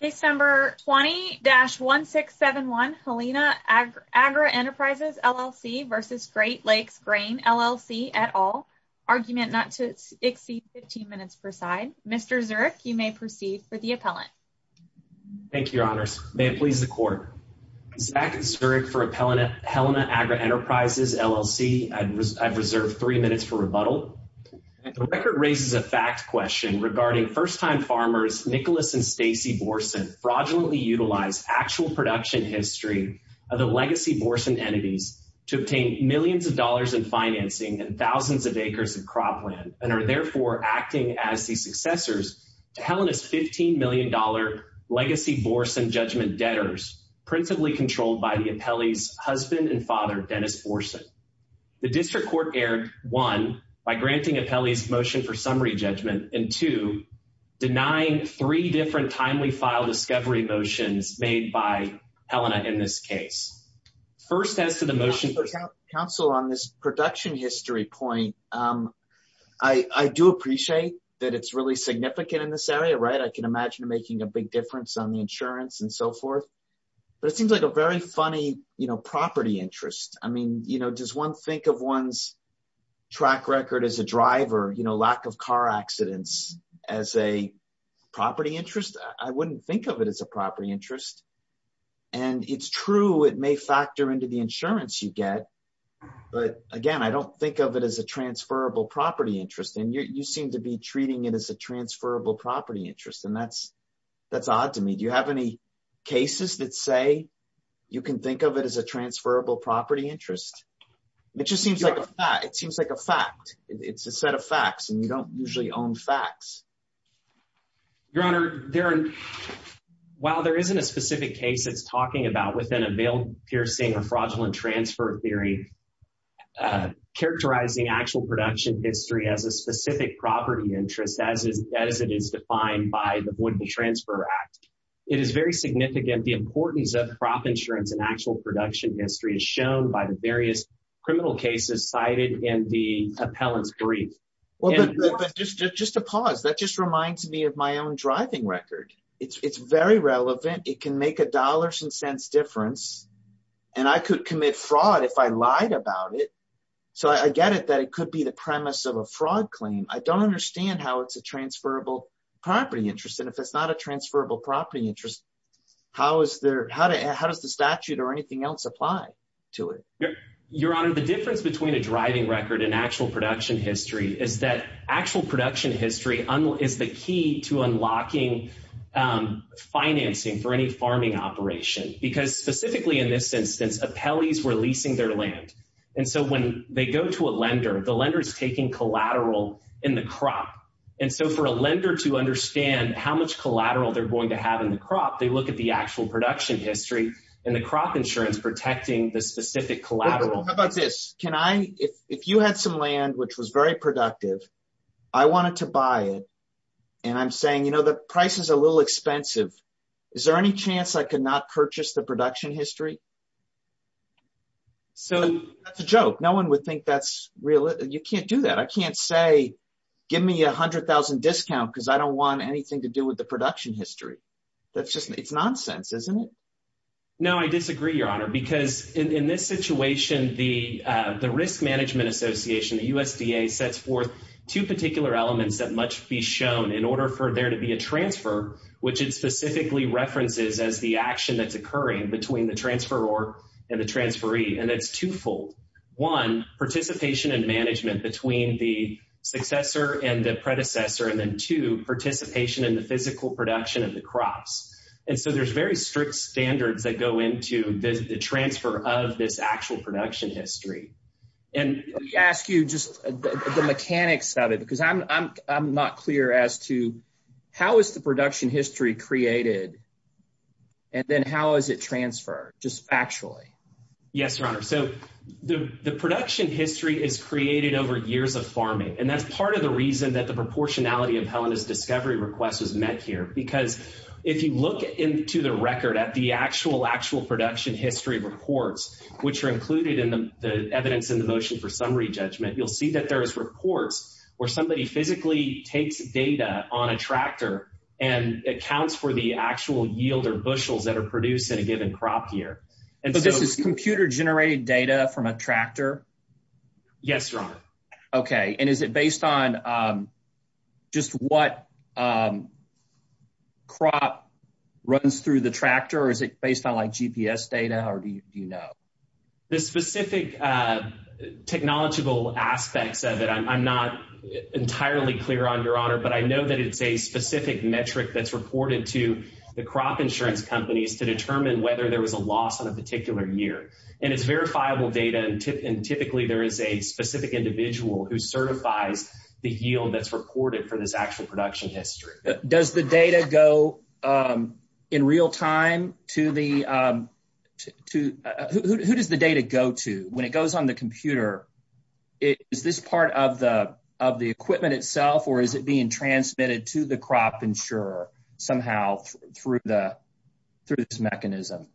Case number 20-1671 Helena Agri-Enterprises LLC v. Great Lakes Grain LLC et al. Argument not to exceed 15 minutes per side. Mr. Zurich, you may proceed for the appellant. Thank you, your honors. May it please the court. Zach Zurich for appellant Helena Agri-Enterprises LLC. I've reserved three minutes for rebuttal. The record raises a fact question regarding first-time farmers Nicholas and Stacy Borson fraudulently utilize actual production history of the legacy Borson entities to obtain millions of dollars in financing and thousands of acres of cropland and are therefore acting as the successors to Helena's 15 million dollar legacy Borson judgment debtors principally controlled by the appellee's husband and father Dennis Borson. The district court erred one by granting appellee's motion for summary judgment and two denying three different timely file discovery motions made by Helena in this case. First as to the motion counsel on this production history point um I I do appreciate that it's really significant in this area right I can imagine making a big difference on the insurance and so forth but it seems like a very funny you know property interest I mean you know does one think of one's track record as a driver you know lack of car accidents as a property interest I wouldn't think of it as a property interest and it's true it may factor into the insurance you get but again I don't think of it as a transferable property interest and you seem to be treating it as a transferable property interest and that's that's odd to me do you have any cases that say you can think of it as a transferable property interest it just seems like a fact it seems like a fact it's a set of facts and you don't usually own facts your honor there while there isn't a specific case it's talking about within a veil piercing or fraudulent transfer theory uh history as a specific property interest as is as it is defined by the wooden transfer act it is very significant the importance of crop insurance and actual production history is shown by the various criminal cases cited in the appellant's brief well but just just a pause that just reminds me of my own driving record it's it's very relevant it can make a dollars and cents difference and I could commit fraud if I lied about it so I get it that it could be the premise of a fraud claim I don't understand how it's a transferable property interest and if it's not a transferable property interest how is there how to how does the statute or anything else apply to it your honor the difference between a driving record and actual production history is that actual production history is the key to unlocking financing for any farming operation because specifically in this instance appellees were leasing their land and so when they go to a lender the lender is taking collateral in the crop and so for a lender to understand how much collateral they're going to have in the crop they look at the actual production history and the crop insurance protecting the specific collateral how about this can I if you had some land which was very productive I wanted to buy it and I'm saying you know the price is a little expensive is there any chance I could not purchase the production history so that's a joke no one would think that's real you can't do that I can't say give me a hundred thousand discount because I don't want anything to do with the production history that's just it's nonsense isn't it no I disagree your honor because in in this situation the uh Risk Management Association the USDA sets forth two particular elements that must be shown in order for there to be a transfer which it specifically references as the action that's occurring between the transferor and the transferee and it's twofold one participation and management between the successor and the predecessor and then two participation in the physical production of the crops and so there's very strict standards that go into the transfer of this actual production history and let me ask you just the mechanics of it because I'm I'm I'm not clear as to how is the production history created and then how is it transferred just actually yes your honor so the the production history is created over years of farming and that's part of the reason that the proportionality of Helena's discovery request was met here because if you look into the record at the actual actual production history reports which are included in the evidence in the motion for summary judgment you'll see that there is reports where somebody physically takes data on a tractor and accounts for the actual yield or bushels that are produced in a given crop year and so this is computer generated data from a tractor yes your honor okay and is it based on just what crop runs through the tractor or is it based on like gps data or do you know the specific technological aspects of it I'm not entirely clear on your honor but I know that it's a specific metric that's reported to the crop insurance companies to determine whether there was a loss on a particular year and it's verifiable data and typically there is a that's reported for this actual production history does the data go in real time to the to who does the data go to when it goes on the computer is this part of the of the equipment itself or is it being transmitted to the crop insurer somehow through the through this mechanism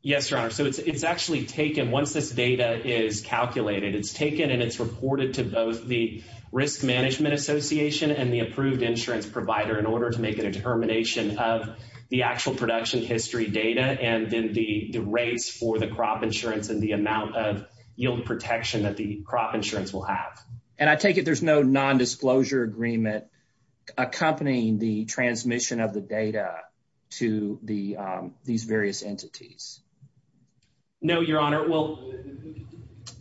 yes your honor so it's it's actually taken once this data is calculated it's taken and it's reported to both the risk management association and the approved insurance provider in order to make a determination of the actual production history data and then the the rates for the crop insurance and the amount of yield protection that the crop insurance will have and I take it there's no non-disclosure agreement accompanying the transmission of the data to the these various entities no your honor well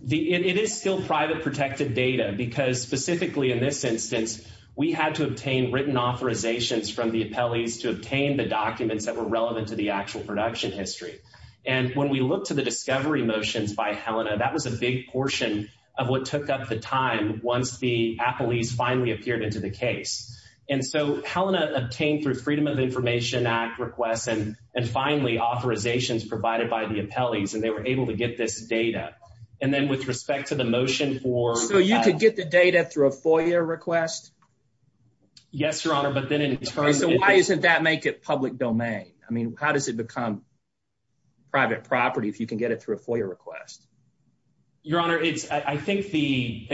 the it is still private protected data because specifically in this instance we had to obtain written authorizations from the appellees to obtain the documents that were relevant to the actual production history and when we look to the discovery motions by Helena that was a big portion of what took up the time once the appellees finally appeared into the case and so Helena obtained through freedom of information act requests and and finally authorizations provided by the appellees and they were able to get this data and then with respect to the motion for so you could get the data through a FOIA request yes your honor but then in terms of why isn't that make it public domain I mean how does it become private property if you can get it through a FOIA request your honor it's I think the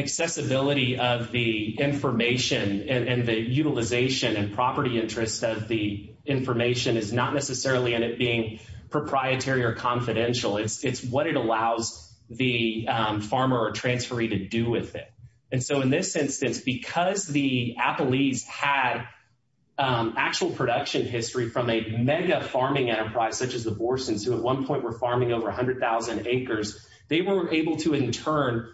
not necessarily in it being proprietary or confidential it's what it allows the farmer or transferee to do with it and so in this instance because the appellees had actual production history from a mega farming enterprise such as the Borsons who at one point were farming over a hundred thousand acres they were able to in turn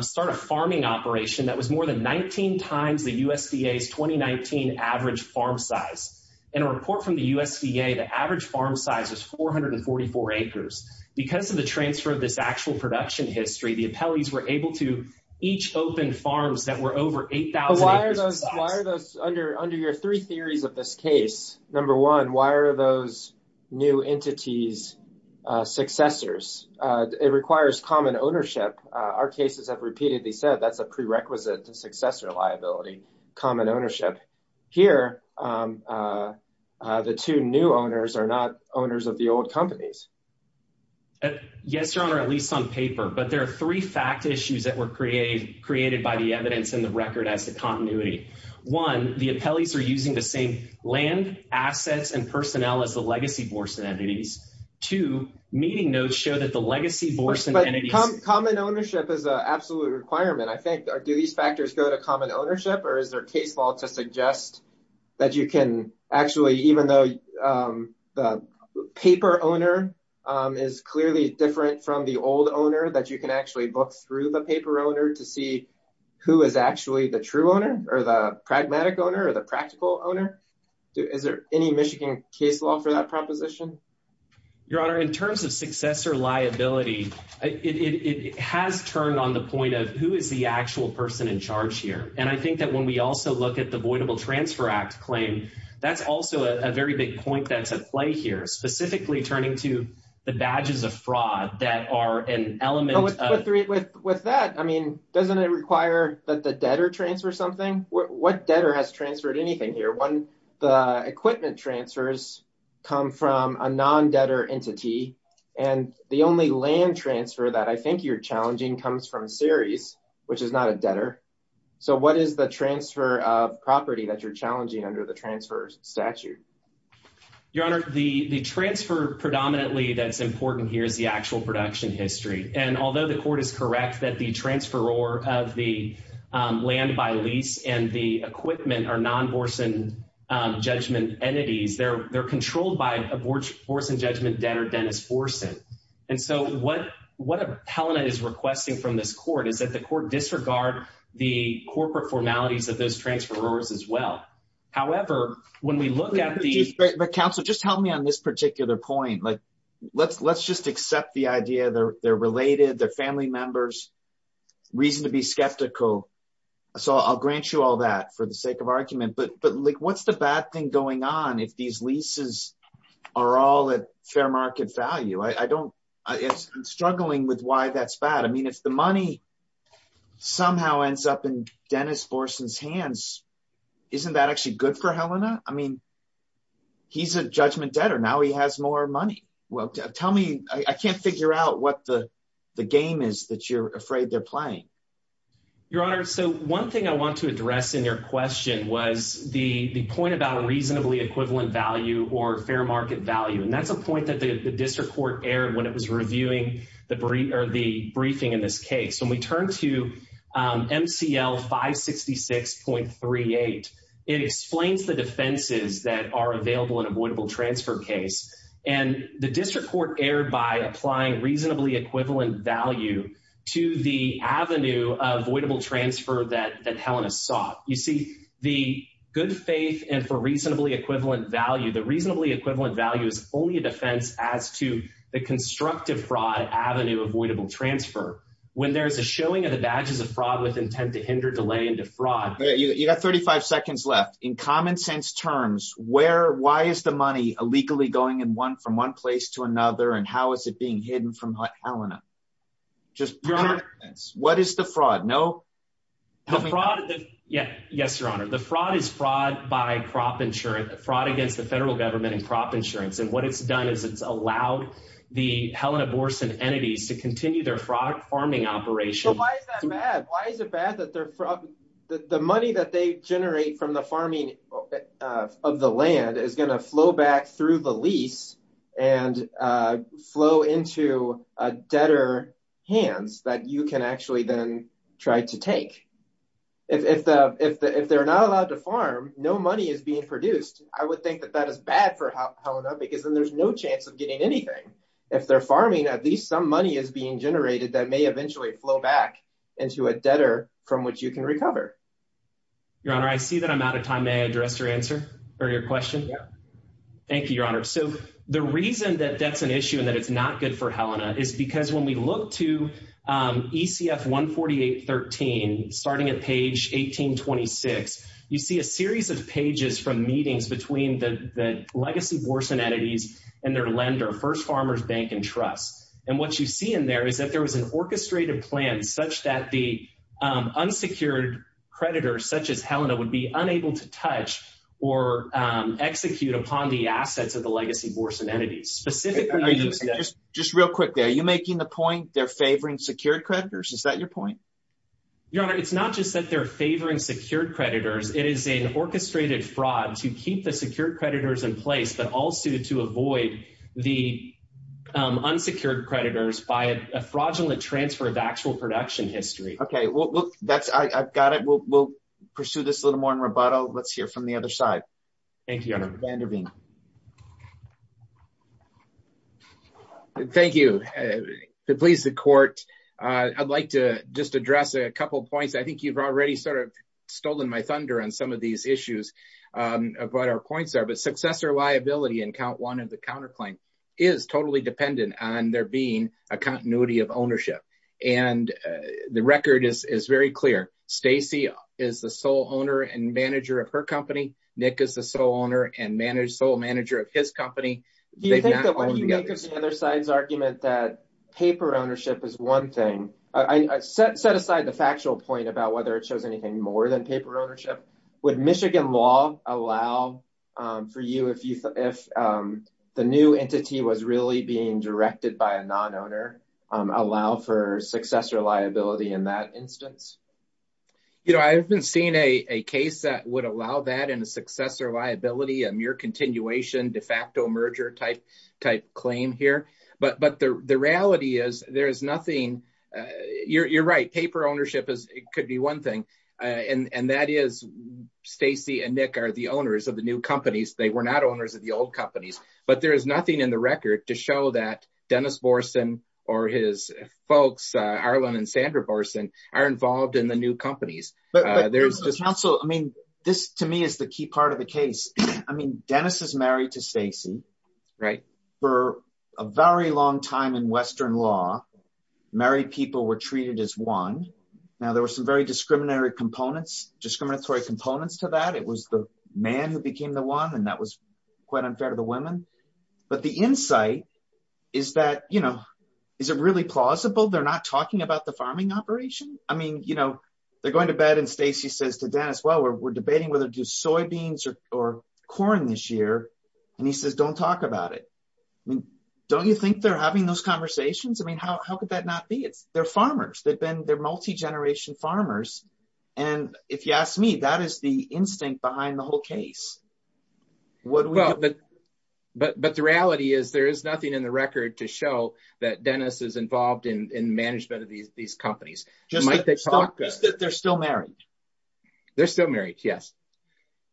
start a farming operation that was more than 19 times the USDA's 2019 average farm size in a report from the USDA the average farm size is 444 acres because of the transfer of this actual production history the appellees were able to each open farms that were over 8,000 acres why are those why are those under under your three theories of this case number one why are those new entities successors it requires common ownership our cases have repeatedly said that's a prerequisite to successor liability common ownership here the two new owners are not owners of the old companies yes your honor at least on paper but there are three fact issues that were created created by the evidence in the record as the continuity one the appellees are using the same land assets and personnel as the but common ownership is a absolute requirement i think do these factors go to common ownership or is there case law to suggest that you can actually even though the paper owner is clearly different from the old owner that you can actually book through the paper owner to see who is actually the true owner or the pragmatic owner or the practical owner is there any michigan case law for that proposition your honor in terms of successor liability it it has turned on the point of who is the actual person in charge here and i think that when we also look at the avoidable transfer act claim that's also a very big point that's at play here specifically turning to the badges of fraud that are an element with with that i mean doesn't it require that the debtor transfer something what debtor has transferred anything here when the equipment transfers come from a non-debtor entity and the only land transfer that i think you're challenging comes from series which is not a debtor so what is the transfer of property that you're challenging under the transfer statute your honor the the transfer predominantly that's important here is the actual production history and although the court is judgment entities they're they're controlled by abortion judgment debtor dennis forsen and so what what appellant is requesting from this court is that the court disregard the corporate formalities of those transferors as well however when we look at the council just help me on this particular point like let's let's just accept the idea they're they're related they're family members reason to be skeptical so i'll grant you all that for the sake of argument but but like what's the bad thing going on if these leases are all at fair market value i i don't it's struggling with why that's bad i mean if the money somehow ends up in dennis borson's hands isn't that actually good for helena i mean he's a judgment debtor now he has more money well tell me i can't figure out what the the game is that you're afraid they're playing your honor so one thing i want to address in your question was the the point about reasonably equivalent value or fair market value and that's a point that the district court aired when it was reviewing the brief or the briefing in this case when we turn to mcl 566.38 it explains the defenses that are available in avoidable transfer case and the district court aired by applying reasonably equivalent value to the avenue avoidable transfer that that helena saw you see the good faith and for reasonably equivalent value the reasonably equivalent value is only a defense as to the constructive fraud avenue avoidable transfer when there's a showing of the badges of fraud with intent to hinder delay into fraud you got 35 left in common sense terms where why is the money illegally going in one from one place to another and how is it being hidden from helena just your honor what is the fraud no the fraud yeah yes your honor the fraud is fraud by crop insurance fraud against the federal government and crop insurance and what it's done is it's allowed the helena borson entities to continue their fraud farming operation why is that bad why is it bad that they're from the money that they generate from the farming of the land is going to flow back through the lease and uh flow into a debtor hands that you can actually then try to take if the if the if they're not allowed to farm no money is being produced i would think that that is bad for helena because then there's no chance of getting anything if they're farming at least some money is being generated that may eventually flow back into a debtor from which you can recover your honor i see that i'm out of time may i address your answer or your question thank you your honor so the reason that that's an issue and that it's not good for helena is because when we look to um ecf 148 13 starting at page 18 26 you see a series of pages from meetings between the the legacy borson entities and their lender first farmers bank and trust and what you see in there is that there was an orchestrated plan such that the um unsecured creditors such as helena would be unable to touch or um execute upon the assets of the legacy borson entities specifically just real quickly are you making the point they're favoring secured creditors is that your point your honor it's not just that they're favoring secured creditors it is an orchestrated fraud to keep the secured creditors in place but also to avoid the um unsecured creditors by a fraudulent transfer of actual production history okay well that's i i've got it we'll we'll pursue this a little more in rebuttal let's hear from the other side thank you thank you to please the court uh i'd like to just address a couple points i think you've already sort of stolen my thunder on some of these issues um of what our points are but successor liability and count one of the counter claim is totally dependent on there being a continuity of ownership and the record is is very clear stacy is the sole owner and manager of her company nick is the sole owner and managed sole manager of his company the other side's argument that paper ownership is one thing i set set aside the factual point about whether it shows anything more than paper ownership would michigan law allow um for you if you if um the new entity was really being directed by a non-owner um allow for successor liability in that instance you know i haven't seen a a case that would allow that in a successor liability a mere continuation de facto merger type type claim here but but the the reality is there is nothing uh you're you're right paper ownership is it could be one thing uh and and that is stacy and nick are the owners of the new companies they were not owners of the old companies but there is nothing in the record to show that dennis borson or his folks uh arlen and sandra borson are involved in the new companies but there's just not so i mean this to me is the key part of the case i mean dennis is married to stacy right for a very long time in western law married people were treated as one now there were some very discriminatory components discriminatory components to that it was the man who became the one and that was quite unfair to the women but the insight is that you know is it really plausible they're not talking about the farming operation i mean you know they're going to bed and stacy says to dennis well we're debating whether to do soybeans or or corn this year and he says don't talk about it i mean don't you think they're having those conversations i mean how could that not be it's they're farmers they've been they're multi-generation farmers and if you ask me that is the instinct behind the whole case what well but but but the reality is there is nothing in the record to show that dennis is involved in in management of these these companies just might they talk just that they're still married they're still married yes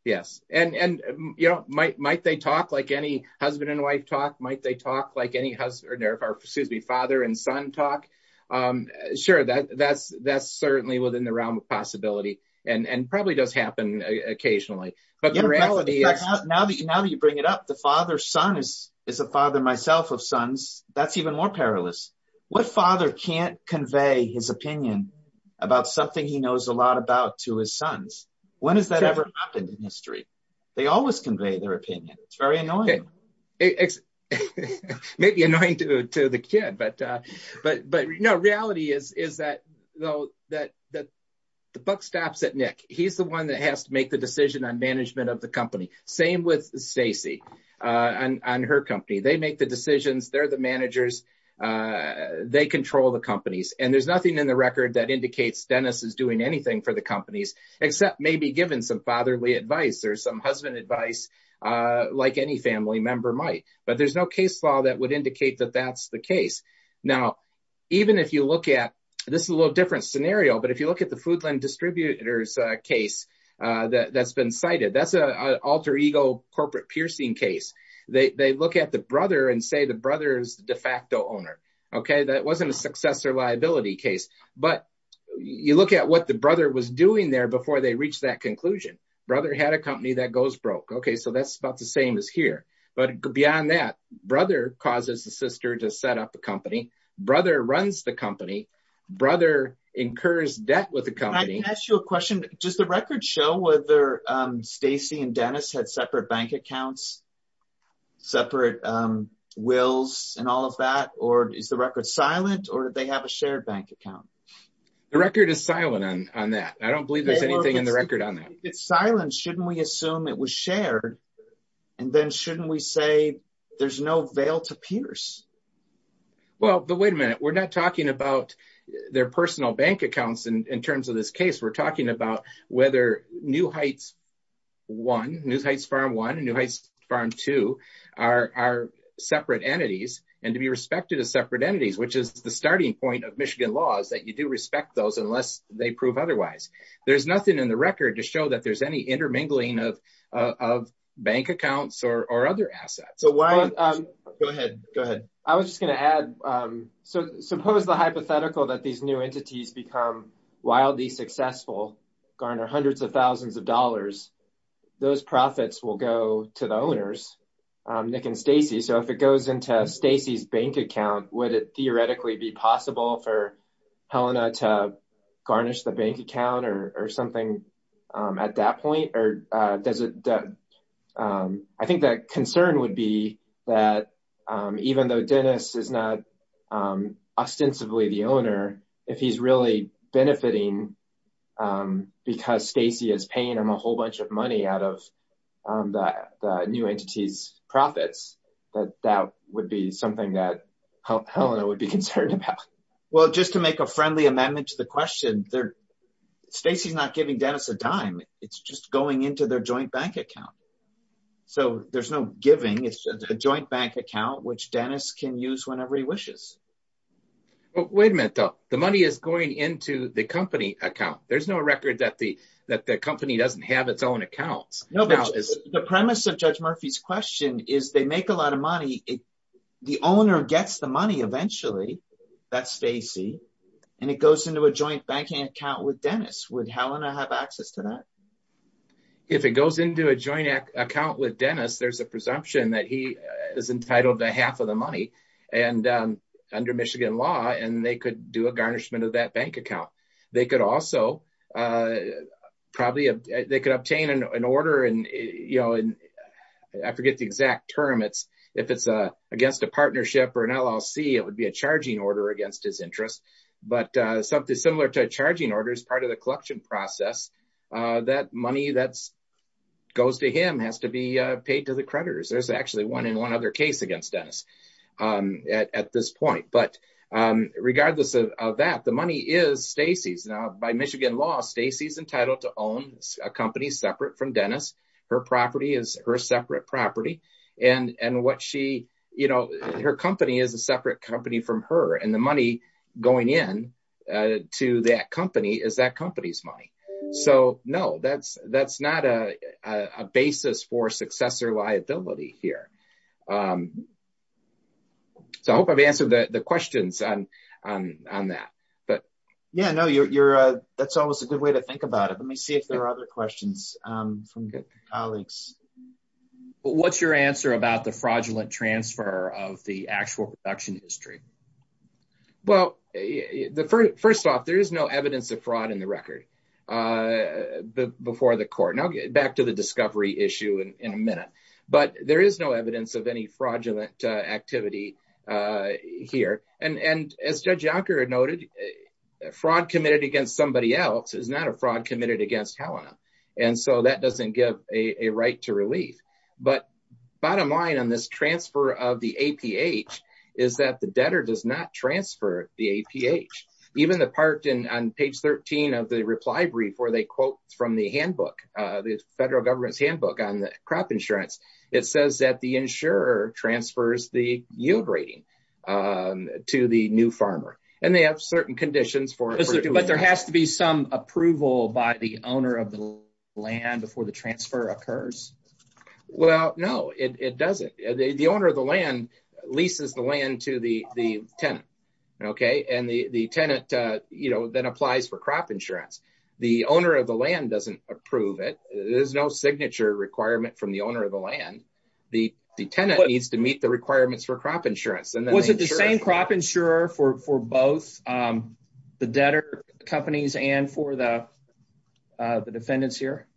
yes and and you know might might they talk like any husband and wife talk might they talk like any husband or excuse me father and son talk um sure that that's that's certainly within the realm of possibility and and probably does happen occasionally but the reality is now that now that you bring it up the father son is is a father myself of sons that's even more perilous what father can't convey his opinion about something he knows a lot about to his sons when has that ever happened in history they always convey their opinion it's very annoying it's maybe annoying to to the kid but but but no reality is is that though that that the buck stops at nick he's the one that has to make the decision on management of the company same with stacy uh on on her company they make the decisions they're the managers uh they control the companies and there's nothing in the record that indicates dennis is doing anything for the companies except maybe given some fatherly advice or some husband advice uh like any family member might but there's no case law that would indicate that that's the case now even if you look at this is a little different scenario but if you look at the foodland distributors uh case uh that that's been cited that's a alter ego corporate piercing case they they look at the brother and say the brother's de facto owner okay that wasn't a successor liability case but you look at what the brother was doing there before they reached that okay so that's about the same as here but beyond that brother causes the sister to set up a company brother runs the company brother incurs debt with the company i can ask you a question does the record show whether um stacy and dennis had separate bank accounts separate um wills and all of that or is the record silent or they have a shared bank account the record is silent on on that i don't believe there's anything in the record on that it's silent shouldn't we assume it was shared and then shouldn't we say there's no veil to pierce well but wait a minute we're not talking about their personal bank accounts in terms of this case we're talking about whether new heights one news heights farm one new heights farm two are are separate entities and to be respected as separate entities which is the starting point of michigan law is that you do respect those unless they prove otherwise there's nothing in the record to show that there's any intermingling of of bank accounts or or other assets so why um go ahead go ahead i was just going to add um so suppose the hypothetical that these new entities become wildly successful garner hundreds of thousands of dollars those profits will go to the owners um nick and stacy so if it goes into stacy's bank account would it theoretically be possible for helena to garnish the bank account or something um at that point or uh does it um i think that concern would be that um even though dennis is not um ostensibly the owner if he's really benefiting um because stacy is paying him a whole bunch of money out of um the new entity's profits that that would be something that helena would be concerned about well just to make a amendment to the question they're stacy's not giving dennis a dime it's just going into their joint bank account so there's no giving it's a joint bank account which dennis can use whenever he wishes oh wait a minute though the money is going into the company account there's no record that the that the company doesn't have its own accounts no but the premise of judge murphy's they make a lot of money the owner gets the money eventually that's stacy and it goes into a joint banking account with dennis would helena have access to that if it goes into a joint account with dennis there's a presumption that he is entitled to half of the money and um under michigan law and they could do a garnishment of that bank account they could also uh probably they could obtain an order and you know and i forget the exact term it's if it's a against a partnership or an llc it would be a charging order against his interest but uh something similar to a charging order is part of the collection process uh that money that's goes to him has to be uh paid to the creditors there's actually one in one other case against dennis um at this point but um regardless of that the money is stacy's now by michigan law stacy's entitled to own a company separate from dennis her property is her separate property and and what she you know her company is a separate company from her and the money going in uh to that company is that company's money so no that's that's not a a basis for successor liability here um so i hope i've answered the the questions on on on that but yeah no you're you're uh that's a good way to think about it let me see if there are other questions um from good colleagues what's your answer about the fraudulent transfer of the actual production history well the first off there is no evidence of fraud in the record uh before the court now get back to the discovery issue in a minute but there is no evidence of any fraudulent uh activity uh here and and as judge yonker had noted a fraud committed against somebody else is not a fraud committed against helena and so that doesn't give a a right to relief but bottom line on this transfer of the aph is that the debtor does not transfer the aph even the part in on page 13 of the reply brief where they quote from the handbook uh the federal government's handbook on the crop insurance it says that the insurer transfers the yield rating um to the new farmer and they have certain conditions for but there has to be some approval by the owner of the land before the transfer occurs well no it it doesn't the owner of the land leases the land to the the tenant okay and the the tenant uh you know then applies for crop insurance the owner of the land doesn't approve it there's no signature requirement from the owner of the land the the tenant needs to meet the requirements for crop insurance and then was it the same crop insurer for for both um the debtor companies and for the uh the defendants here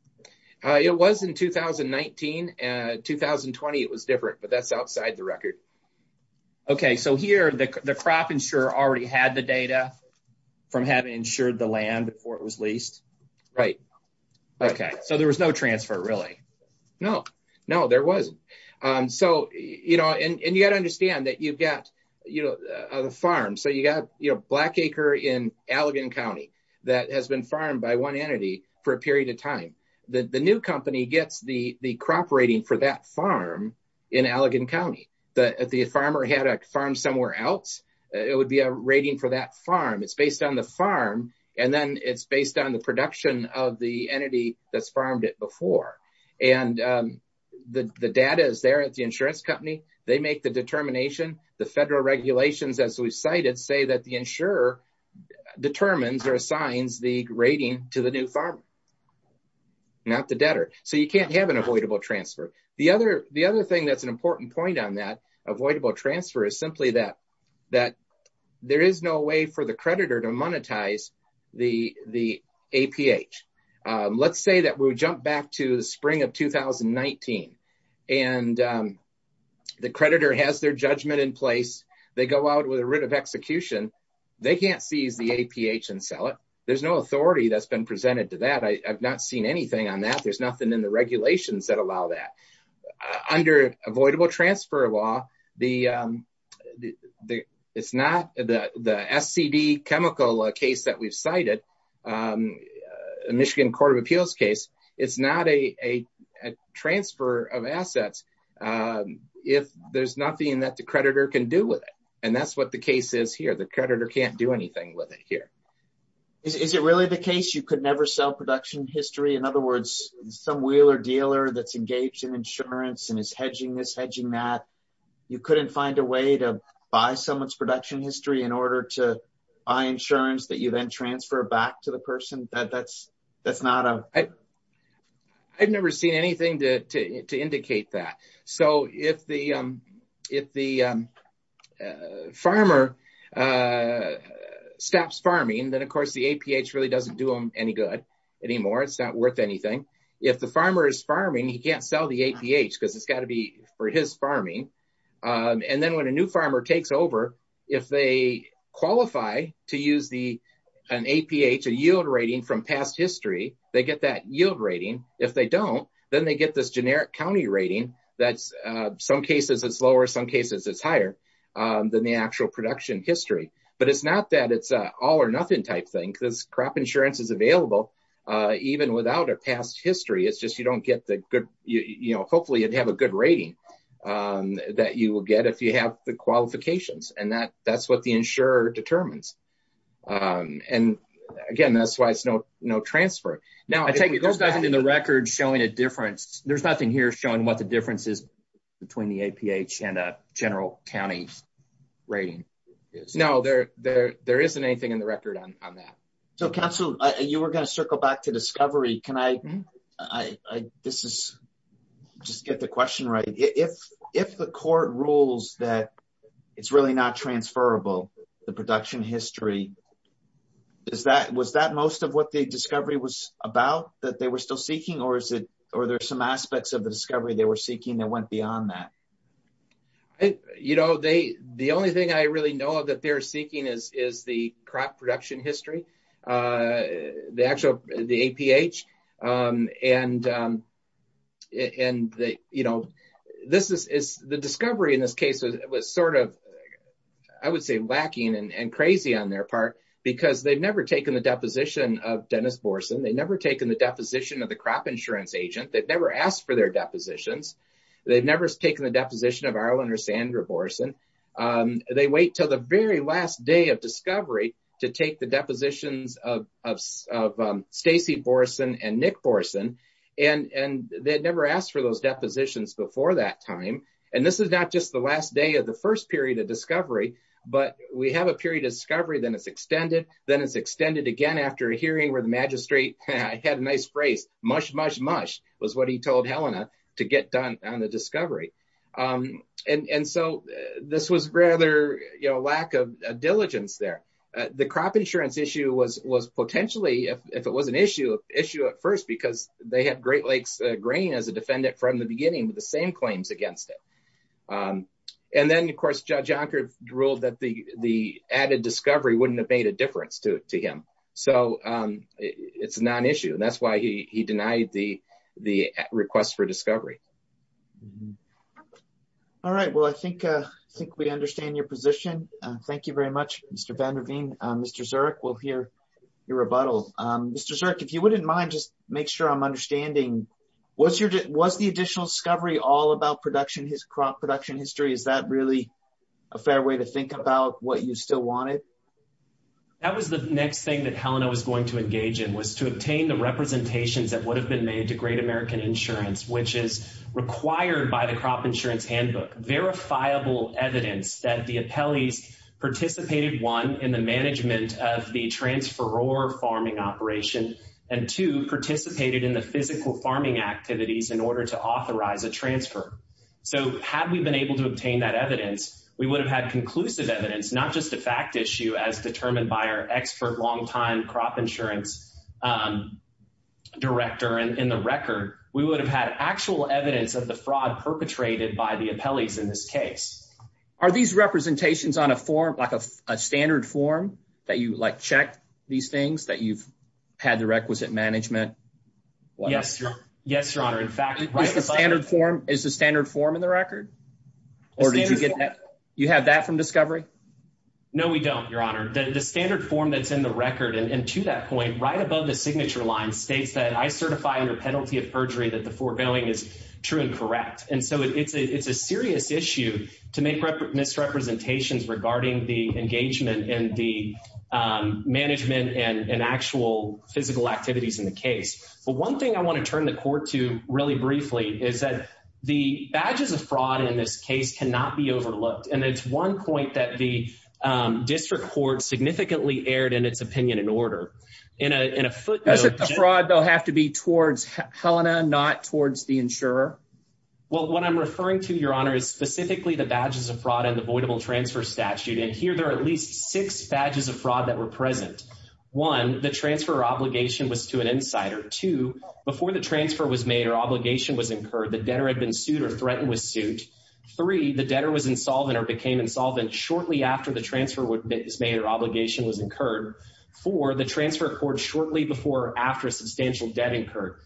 uh it was in 2019 and 2020 it was different but that's outside the record okay so here the the crop insurer already had the data from having insured the land before it was leased right okay so there was no transfer really no no there wasn't um so you know and you got to understand that you've got you know the farm so you got you know black acre in allegan county that has been farmed by one entity for a period of time the the new company gets the the crop rating for that farm in allegan county the the farmer had a farm somewhere else it would be a rating for that farm it's based on the farm and then it's based on the production of the entity that's farmed it before and um the the data is there at the insurance company they make the determination the federal regulations as we've cited say that the insurer determines or assigns the rating to the new farmer not the debtor so you can't have an avoidable transfer the other the other thing that's an important point on that avoidable transfer is simply that that there is no way for the creditor to monetize the the APH let's say that we jump back to the spring of 2019 and the creditor has their judgment in place they go out with a writ of execution they can't seize the APH and sell it there's no authority that's been presented to that I've not seen anything on that there's nothing in the regulations that allow that under avoidable transfer law the um the it's not the the SCD chemical case that we've cited um a michigan court of appeals case it's not a a transfer of assets um if there's nothing that the creditor can do with it and that's what the case is here the creditor can't do anything with it here is it really the case you could never sell production history in other words some wheeler dealer that's engaged in insurance and is hedging this hedging that you couldn't find a way to buy someone's production history in order to buy insurance that you then transfer back to the person that that's that's not a I've never seen anything to to indicate that so if the um if the um farmer uh stops farming then of course the APH really doesn't do them any good anymore it's not worth anything if the farmer is farming he can't sell the APH because it's got to be for his farming um and then when a new farmer takes over if they qualify to use the an APH a yield rating from past history they get that yield rating if they don't then they get this generic county rating that's uh some cases it's lower some cases it's higher um than the actual production history but it's not that it's a all or nothing type thing because crop insurance is available uh even without a past history it's just you don't get the good you know hopefully you'd have a good rating um that you will get if you have the qualifications and that that's what the insurer determines um and again that's why it's no no transfer now I take it there's nothing in the record showing a difference there's nothing here showing what the difference is between the APH and general county rating is no there there there isn't anything in the record on on that so council you were going to circle back to discovery can I I I this is just get the question right if if the court rules that it's really not transferable the production history is that was that most of what the discovery was about that they were still seeking or is it or there's aspects of the discovery they were seeking that went beyond that you know they the only thing I really know that they're seeking is is the crop production history uh the actual the APH um and and they you know this is is the discovery in this case was sort of I would say lacking and crazy on their part because they've never taken the deposition of Dennis Borson they've never taken the deposition of the crop insurance agent they've never asked for their depositions they've never taken the deposition of Arlen or Sandra Borson um they wait till the very last day of discovery to take the depositions of of Stacey Borson and Nick Borson and and they'd never asked for those depositions before that time and this is not just the last day of the first period of discovery but we have a period of discovery then it's extended then it's extended again after a hearing where the magistrate I had a nice phrase mush mush mush was what he told Helena to get done on the discovery um and and so this was rather you know lack of diligence there the crop insurance issue was was potentially if it was an issue issue at first because they had Great Lakes grain as a defendant from the beginning with the same claims against it and then of course Judge Anker ruled that the the added discovery wouldn't have made a difference to to him so um it's not an issue and that's why he he denied the the request for discovery all right well I think uh I think we understand your position uh thank you very much Mr. Vanderveen Mr. Zurich we'll hear your rebuttal um Mr. Zurich if you wouldn't mind just make sure I'm understanding what's your was the additional discovery all about production his crop production history is that really a fair way to think about what you still wanted that was the next thing that Helena was going to engage in was to obtain the representations that would have been made to Great American Insurance which is required by the crop insurance handbook verifiable evidence that the appellees participated one in the management of the transfer or farming operation and two participated in the physical farming activities in order to authorize a transfer so had we been able to obtain that evidence we would have had conclusive evidence not just a fact issue as determined by our expert longtime crop insurance um director and in the record we would have had actual evidence of the fraud perpetrated by the appellees in this case are these representations on a form like a standard form that you like check these things that you've had the requisite management yes yes your honor in fact like the standard form is the no we don't your honor the standard form that's in the record and to that point right above the signature line states that I certify under penalty of perjury that the foregoing is true and correct and so it's a it's a serious issue to make misrepresentations regarding the engagement and the management and actual physical activities in the case but one thing I want to turn the court to is that the badges of fraud in this case cannot be overlooked and it's one point that the district court significantly erred in its opinion in order in a in a footnote fraud they'll have to be towards Helena not towards the insurer well what I'm referring to your honor is specifically the badges of fraud and the voidable transfer statute and here there are at least six badges of fraud that were present one the transfer obligation was to an insider two before the was incurred the debtor had been sued or threatened with suit three the debtor was insolvent or became insolvent shortly after the transfer was made or obligation was incurred four the transfer court shortly before after a substantial debt incurred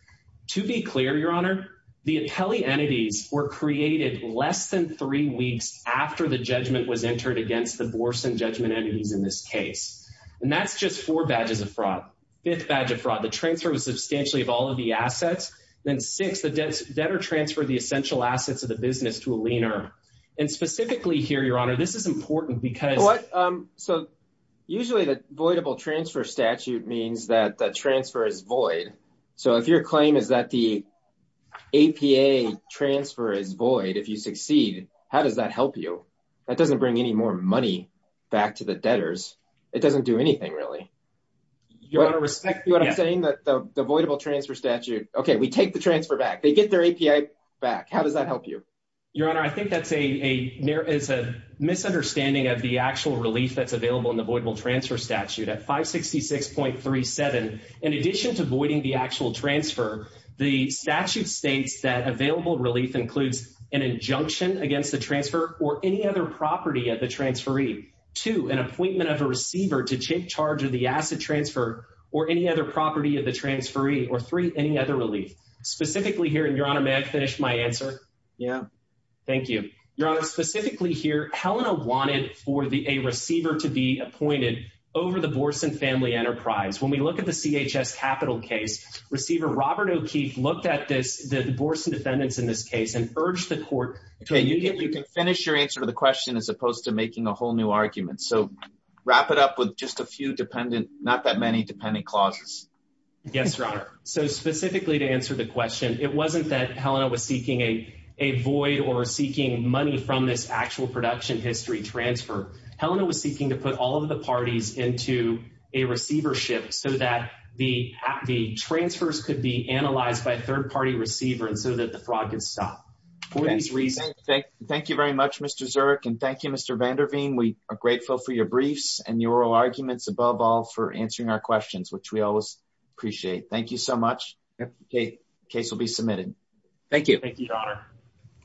to be clear your honor the appellee entities were created less than three weeks after the judgment was entered against the Borson judgment entities in this case and that's just four badges of fraud fifth badge of fraud the transfer was substantially of all of the assets then six the debtor transferred the essential assets of the business to a leaner and specifically here your honor this is important because what um so usually the voidable transfer statute means that the transfer is void so if your claim is that the APA transfer is void if you succeed how does that help you that doesn't bring any more money back to the debtors it doesn't do anything really you want to respect you what i'm saying that the voidable transfer statute okay we take the transfer back they get their API back how does that help you your honor i think that's a a there is a misunderstanding of the actual relief that's available in the voidable transfer statute at 566.37 in addition to voiding the actual transfer the statute states that available relief includes an injunction against the transfer or any other property at the transferee to an appointment of a receiver to charge of the asset transfer or any other property of the transferee or three any other relief specifically here and your honor may i finish my answer yeah thank you your honor specifically here helena wanted for the a receiver to be appointed over the borson family enterprise when we look at the chs capital case receiver robert o'keefe looked at this the borson defendants in this case and urged the court okay you can finish your answer to the question as opposed to making a dependent not that many dependent clauses yes your honor so specifically to answer the question it wasn't that helena was seeking a a void or seeking money from this actual production history transfer helena was seeking to put all of the parties into a receivership so that the the transfers could be analyzed by a third party receiver and so that the fraud can stop for these reasons thank you very much mr zurich and thank you mr van der veen we are grateful for your briefs and your oral arguments above all for answering our questions which we always appreciate thank you so much okay case will be submitted thank you thank you your honor